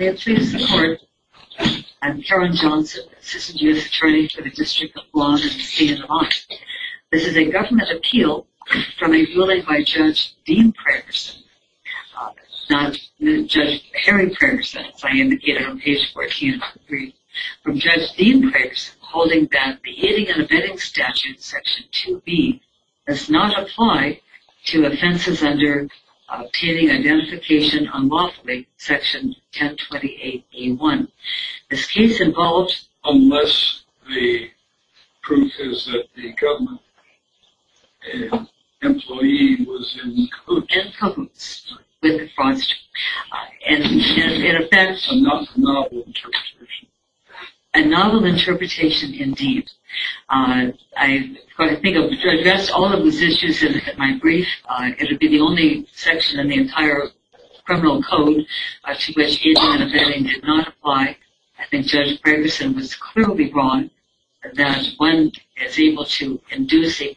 I am Karen Johnson, Assistant U.S. Attorney for the District of Guam and the State of Nevada. This is a government appeal from a ruling by Judge Dean Pragerson, not Judge Harry Pragerson as I indicated on page 14 of the brief. From Judge Dean Pragerson holding that the aiding and abetting statute, section 2B, does not apply to offenses under obtaining identification unlawfully, section 1028A1. This case involves... Unless the proof is that the government employee was in cahoots... In cahoots with the fraudster. And in effect... A novel interpretation. A novel interpretation indeed. To address all of those issues in my brief, it would be the only section in the entire criminal code to which aiding and abetting did not apply. I think Judge Pragerson was clearly wrong that one is able to induce an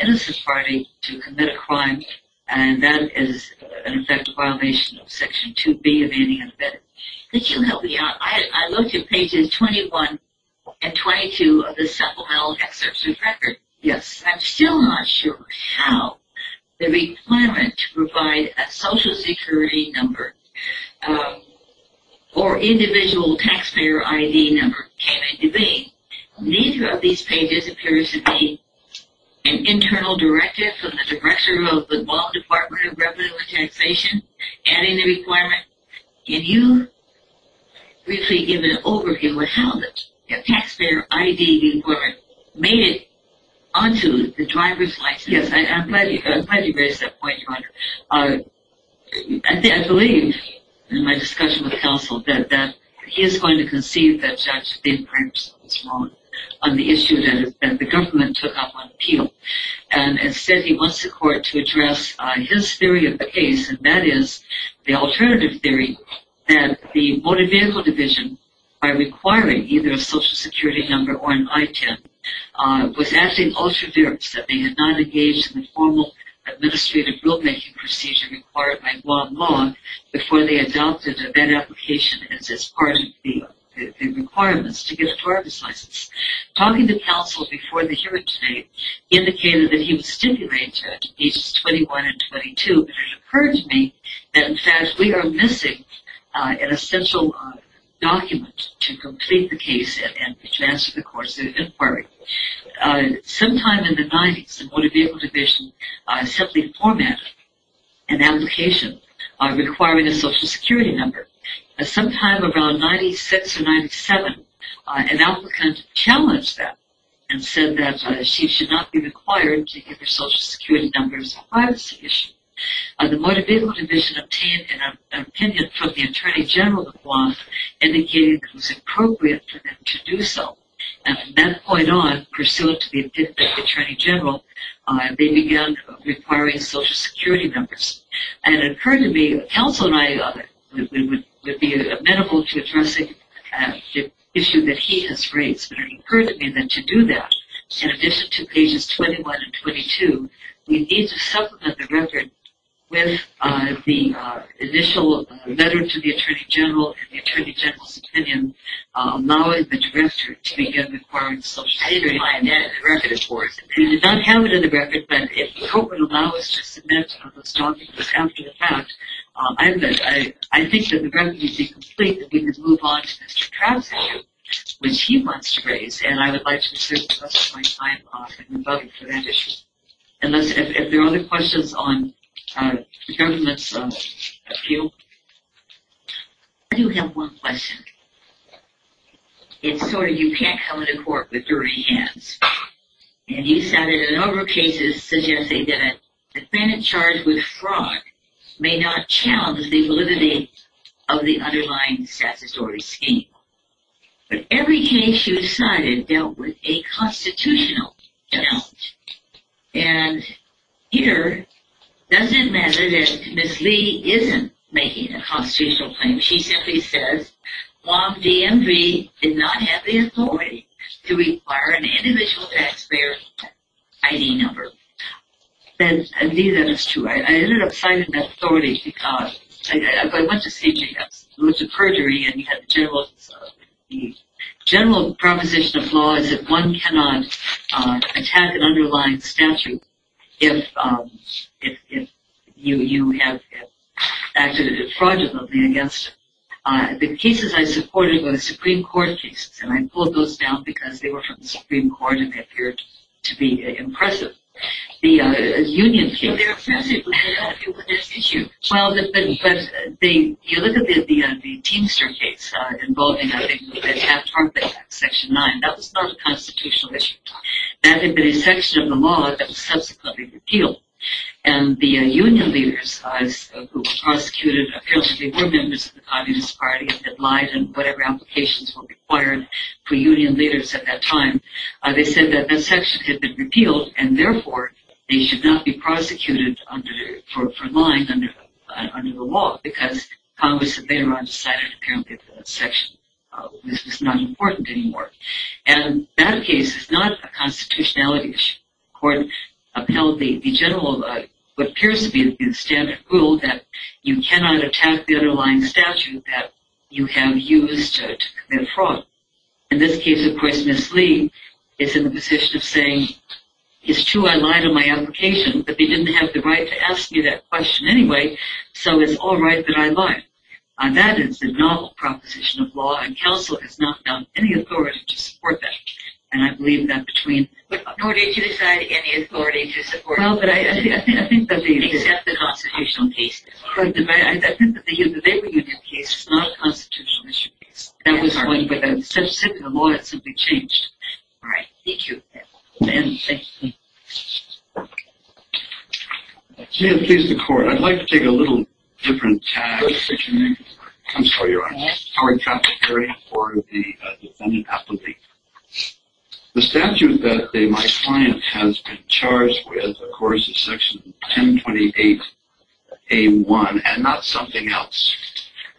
innocent party to commit a crime and that is in effect a violation of section 2B of aiding and abetting. Could you help me out? I looked at pages 21 and 22 of the supplemental excerpts of the record. Yes. I'm still not sure how the requirement to provide a social security number or individual taxpayer ID number came into being. Neither of these pages appears to be an internal directive from the Director of the Guam Department of Revenue and Taxation adding the requirement. Can you briefly give an overview of how the taxpayer ID requirement made it onto the driver's license? Yes, I'm glad you raised that point, Your Honor. I believe in my discussion with counsel that he is going to concede that Judge Bin Pragerson was wrong on the issue that the government took up on appeal. And instead he wants the court to address his theory of the case and that is the alternative theory that the Motor Vehicle Division, by requiring either a social security number or an ITIN, was acting ultra-virus, that they had not engaged in the formal administrative rulemaking procedure required by Guam law before they adopted that application as part of the requirements to get a driver's license. Talking to counsel before the hearing today indicated that he was stipulated, pages 21 and 22, that it occurred to me that in fact we are missing an essential document to complete the case and to advance the course of the inquiry. Sometime in the 90s, the Motor Vehicle Division simply formatted an application requiring a social security number. Sometime around 96 or 97, an applicant challenged that and said that she should not be required to give her social security number as a privacy issue. The Motor Vehicle Division obtained an opinion from the Attorney General of Guam indicating it was appropriate for them to do so. And from that point on, pursuant to the opinion of the Attorney General, they began requiring social security numbers. And it occurred to me, counsel and I would be amenable to addressing the issue that he has raised, but it occurred to me that to do that, in addition to pages 21 and 22, we need to supplement the record with the initial letter to the Attorney General and the Attorney General's opinion now in the directory to begin requiring social security numbers. We did not have it in the record, but if the court would allow us to submit those documents after the fact, I think that the record would be complete and we could move on to Mr. Krause's case, which he wants to raise, and I would like to serve the rest of my time off in rebutting for that issue. Unless there are other questions on the government's view? I do have one question. It's sort of, you can't come into court with dirty hands. And he cited a number of cases suggesting that a defendant charged with fraud may not challenge the validity of the underlying statutory scheme. But every case you cited dealt with a constitutional challenge. And here, it doesn't matter that Ms. Lee isn't making a constitutional claim. She simply says, WOMDMV did not have the authority to require an individual taxpayer ID number. And I believe that is true. I ended up citing that authority because I went to see J.S. It was a perjury and he had the general proposition of law that one cannot attack an underlying statute if you have acted fraudulently against it. The cases I supported were the Supreme Court cases, and I pulled those down because they were from the Supreme Court and they appeared to be impressive. The union case... They're offensive. Well, if you look at the Teamster case involving Section 9, that was not a constitutional issue at the time. That had been a section of the law that was subsequently repealed. And the union leaders who were prosecuted, apparently they were members of the Communist Party, had lied in whatever applications were required for union leaders at that time. They said that that section had been repealed, and therefore they should not be prosecuted for lying under the law because Congress had later on decided apparently that that section was not important anymore. And that case is not a constitutionality issue. The court upheld the general, what appears to be the standard rule, that you cannot attack the underlying statute that you have used to commit fraud. In this case, of course, Ms. Lee is in the position of saying, it's true I lied on my application, but they didn't have the right to ask me that question anyway, so it's all right that I lied. That is a novel proposition of law, and counsel has not found any authority to support that. And I believe that between... Nor did you decide any authority to support that. Well, but I think that the... Except the constitutional cases. I think that the labor union case is not a constitutional issue. That was one, but the law had simply changed. All right. Thank you. Ben, thank you. Ma'am, please, the court. I'd like to take a little different tag. What's your name? I'm sorry, Your Honor. Howard Trapp. Howard Trapp. For the defendant appellee. The statute that my client has been charged with, of course, is Section 1028A1, and not something else.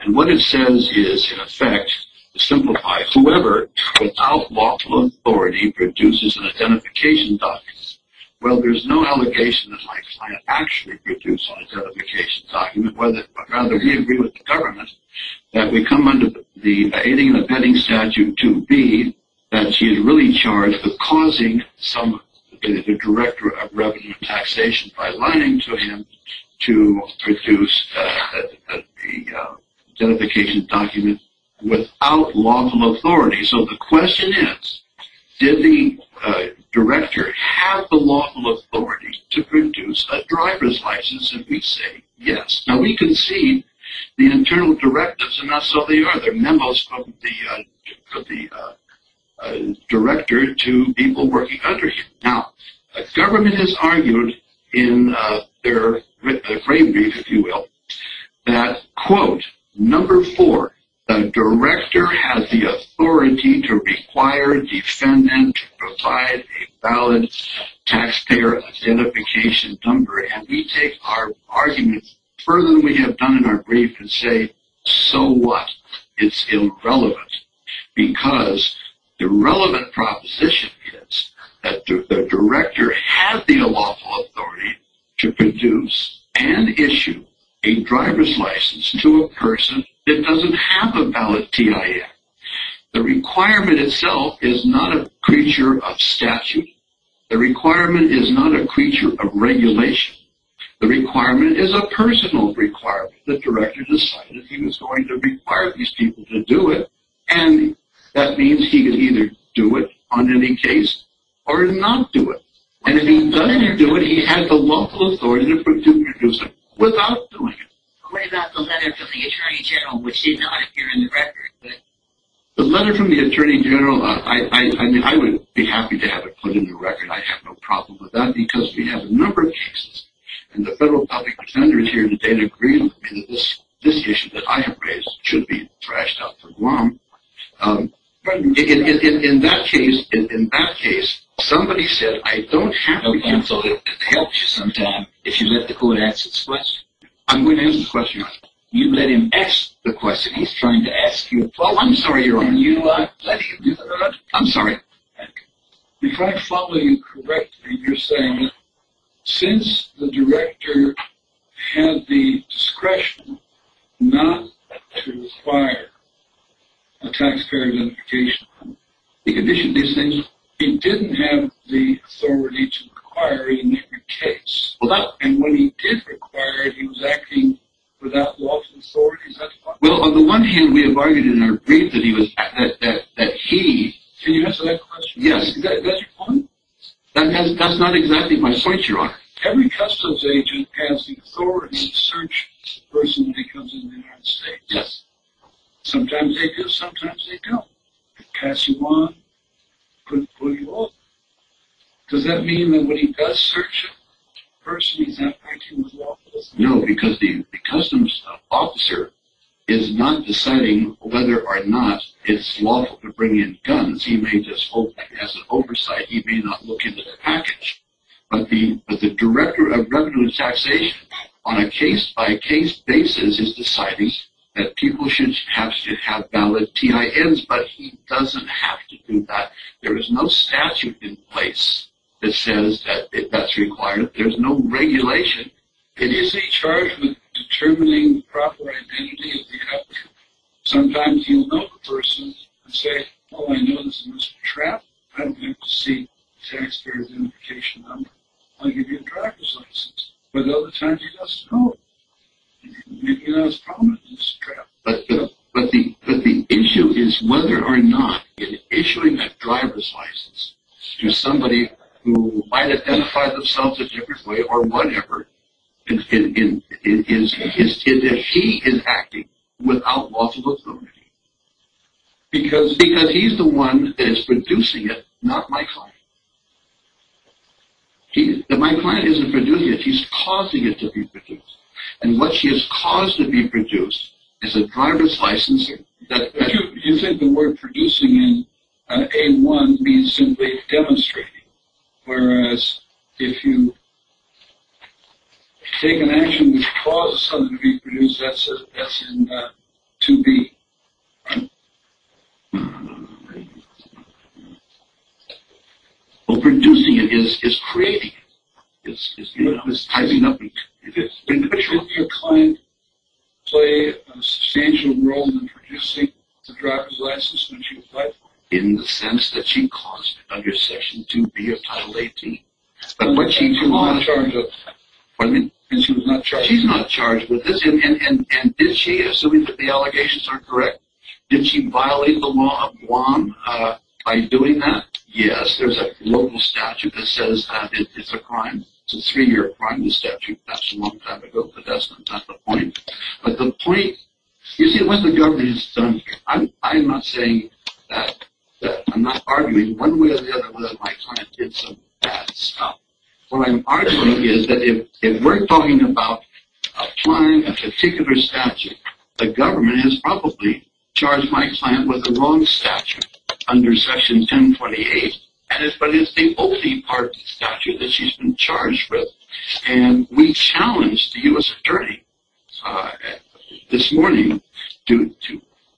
And what it says is, in effect, to simplify, whoever, without lawful authority, produces an identification document. Well, there's no allegation that my client actually produced an identification document, but rather he agreed with the government that we come under the aiding and abetting statute 2B, that he is really charged with causing the director of revenue and taxation, by lying to him, to produce the identification document without lawful authority. So the question is, did the director have the lawful authority to produce a driver's license? And we say yes. Now, we can see the internal directives, and not so they are. There are memos from the director to people working under him. Now, the government has argued in their brief, if you will, that, quote, number four, the director has the authority to require a defendant to provide a valid taxpayer identification number. And we take our arguments further than we have done in our brief and say, so what? It's irrelevant. Because the relevant proposition is that the director had the lawful authority to produce and issue a driver's license to a person that doesn't have a valid TIA. The requirement itself is not a creature of statute. The requirement is not a creature of regulation. The requirement is a personal requirement. The director decided he was going to require these people to do it, and that means he can either do it on any case or not do it. And if he doesn't do it, he has the lawful authority to produce it without doing it. What about the letter from the attorney general, which did not appear in the record? The letter from the attorney general, I would be happy to have it put in the record. I have no problem with that because we have a number of cases, and the federal public defender is here today to agree with me that this issue that I have raised should be thrashed out for Guam. In that case, somebody said I don't have to be counseled. It could help you sometime if you let the court ask its question. I'm going to ask the question, Your Honor. You let him ask the question. He's trying to ask you a question. Well, I'm sorry, Your Honor. You let him. I'm sorry. If I follow you correctly, you're saying that since the director had the discretion not to require a taxpayer identification, he didn't have the authority to require it in every case. And when he did require it, he was acting without lawful authority? Well, on the one hand, we have argued in our brief that he was – that he – Can you answer that question? Yes. Is that your point? That's not exactly my point, Your Honor. Every customs agent has the authority to search a person when he comes into the United States. Yes. Sometimes they do, sometimes they don't. They pass you on, put you off. Does that mean that when he does search a person, he's not acting without lawful authority? No, because the customs officer is not deciding whether or not it's lawful to bring in guns. He may just hold that as an oversight. He may not look into the package. But the director of revenue and taxation, on a case-by-case basis, is deciding that people should have valid TINs, but he doesn't have to do that. There is no statute in place that says that that's required. There's no regulation. It is a charge of determining the proper identity of the applicant. Sometimes you'll know a person and say, oh, I know this is Mr. Trapp. I don't have to see the taxpayer's identification number. I'll give you a driver's license. But other times he doesn't know him. Maybe that was a problem with Mr. Trapp. But the issue is whether or not in issuing that driver's license to somebody who might identify themselves a different way or whatever, is that he is acting without lawful authority. Because he's the one that is producing it, not my client. If my client isn't producing it, he's causing it to be produced. And what he has caused to be produced is a driver's licensing. You think the word producing in A1 means simply demonstrating, whereas if you take an action which causes something to be produced, that's in 2B. Well, producing it is creating it. It's tying it up. Could your client play a substantial role in producing the driver's license when she applied for it? In the sense that she caused it under Section 2B of Title 18. And she was not charged with this? She's not charged with this. And did she, assuming that the allegations are correct, did she violate the law of Guam by doing that? Yes. There's a local statute that says it's a crime. That's a long time ago, but that's not the point. But the point, you see, what the government has done, I'm not saying that, I'm not arguing one way or the other whether my client did some bad stuff. What I'm arguing is that if we're talking about applying a particular statute, the government has probably charged my client with the wrong statute under Section 1028, but it's the only part of the statute that she's been charged with. And we challenged the U.S. attorney this morning to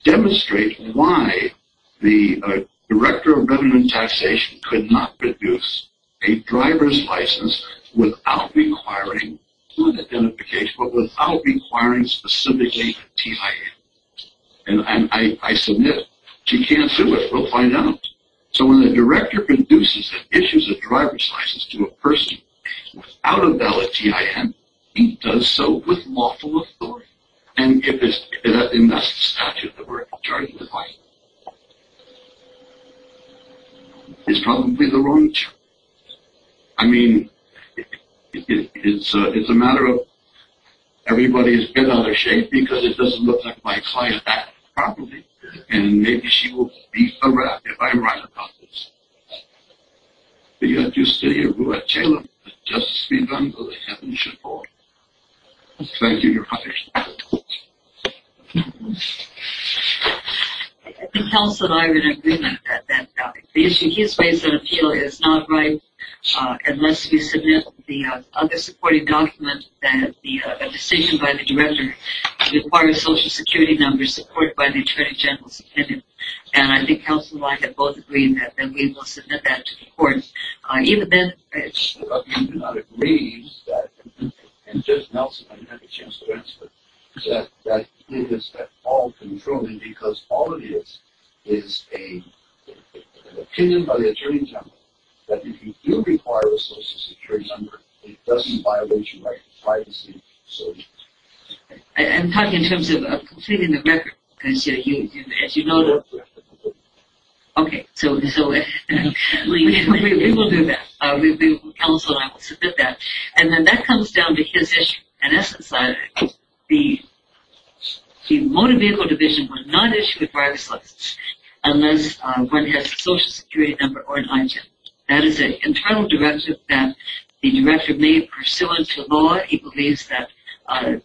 demonstrate why the Director of Government Taxation could not produce a driver's license without requiring identification, but without requiring specifically a TIA. And I submit she can't do it. We'll find out. So when the director produces and issues a driver's license to a person without a valid TIN, he does so with lawful authority. And that's the statute that we're charging the client with. It's probably the wrong charge. I mean, it's a matter of everybody's head out of shape because it doesn't look like my client acted properly. And maybe she will beat the rat if I write about this. But you have to stay here. We'll let Taylor just be done with it. Heaven should fall. Thank you, Your Honor. I think House and I are in agreement that the issue he's raised in appeal is not right unless we submit the other supporting document that the decision by the director to require a social security number supported by the Attorney General's opinion. And I think House and I have both agreed that we will submit that to the court. I do not agree, and Judge Nelson, I didn't have a chance to answer it, that it is at all controlling because all it is is an opinion by the Attorney General that if you do require a social security number, it doesn't violate your right to privacy. I'm talking in terms of completing the record. Okay, so we will do that. Council and I will submit that. And then that comes down to his issue. In essence, the Motor Vehicle Division will not issue a driver's license unless one has a social security number or an item. That is an internal directive that the director may pursue into law. He believes that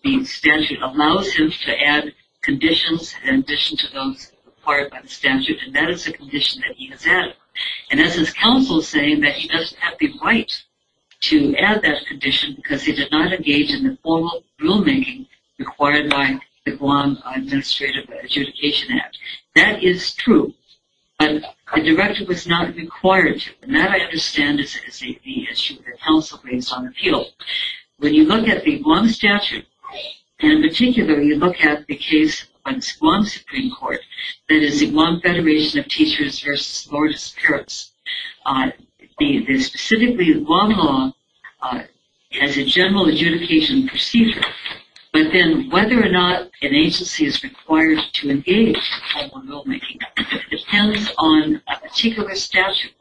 the statute allows him to add conditions in addition to those required by the statute, and that is a condition that he has added. And that's his counsel saying that he doesn't have the right to add that condition because he did not engage in the formal rulemaking required by the Guam Administrative Adjudication Act. That is true, but the director was not required to. And that, I understand, is the issue that counsel raised on appeal. When you look at the Guam statute, and in particular, you look at the case of the Guam Supreme Court, that is the Guam Federation of Teachers v. Lord of Spirits, specifically the Guam law as a general adjudication procedure. But then whether or not an agency is required to engage in formal rulemaking depends on a particular statute.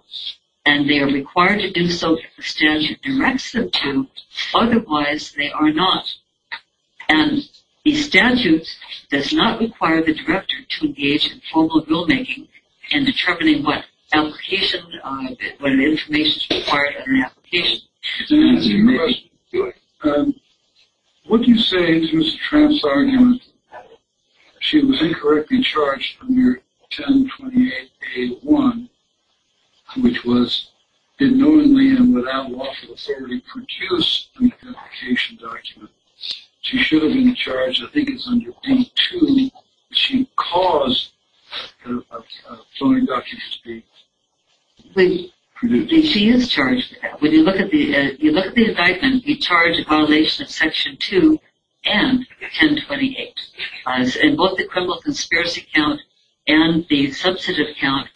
And they are required to do so if the statute directs them to. Otherwise, they are not. And the statute does not require the director to engage in formal rulemaking in determining what information is required under an application. What do you say to Ms. Tramp's argument that she was incorrectly charged under 1028A1, which was, ignorantly and without lawful authority, produced an application document? She should have been charged, I think it's under D2, that she caused a filing document to be produced. She is charged with that. When you look at the indictment, you charge a violation of Section 2 and 1028. In both the criminal conspiracy count and the substantive count,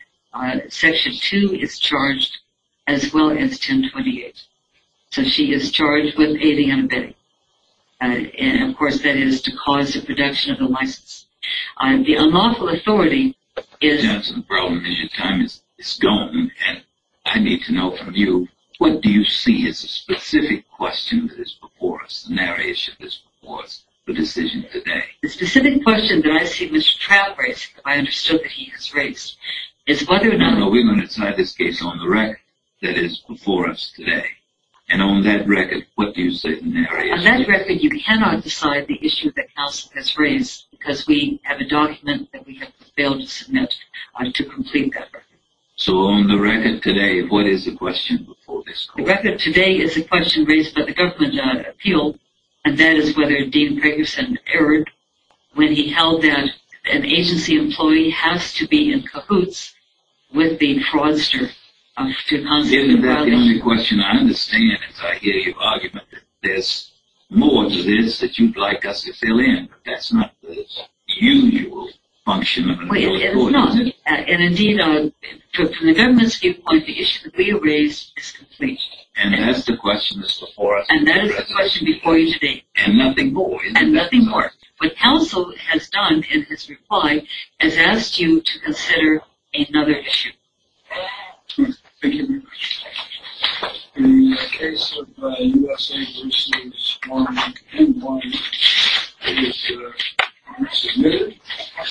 Section 2 is charged as well as 1028. So she is charged with aiding and abetting. And, of course, that is to cause the production of the license. The unlawful authority is... And I need to know from you, what do you see as a specific question that is before us, a narrow issue that is before us, the decision today? The specific question that I see Mr. Tramp raising, that I understood that he has raised, is whether or not... No, no, we're going to decide this case on the record that is before us today. And on that record, what do you say is the narrow issue? On that record, you cannot decide the issue that counsel has raised, because we have a document that we have failed to submit to complete that record. So on the record today, what is the question before this court? The record today is the question raised by the government appeal, and that is whether Dean Pegerson erred when he held that an agency employee has to be in cahoots with the fraudster to constitute a violation. The only question I understand is I hear your argument that there's more to this that you'd like us to fill in, but that's not the usual function of an appellate court, is it? No, it's not. And indeed, from the government's viewpoint, the issue that we have raised is complete. And that's the question that's before us? And that is the question before you today. And nothing more? And nothing more. What counsel has done in his reply is asked you to consider another issue. Thank you very much.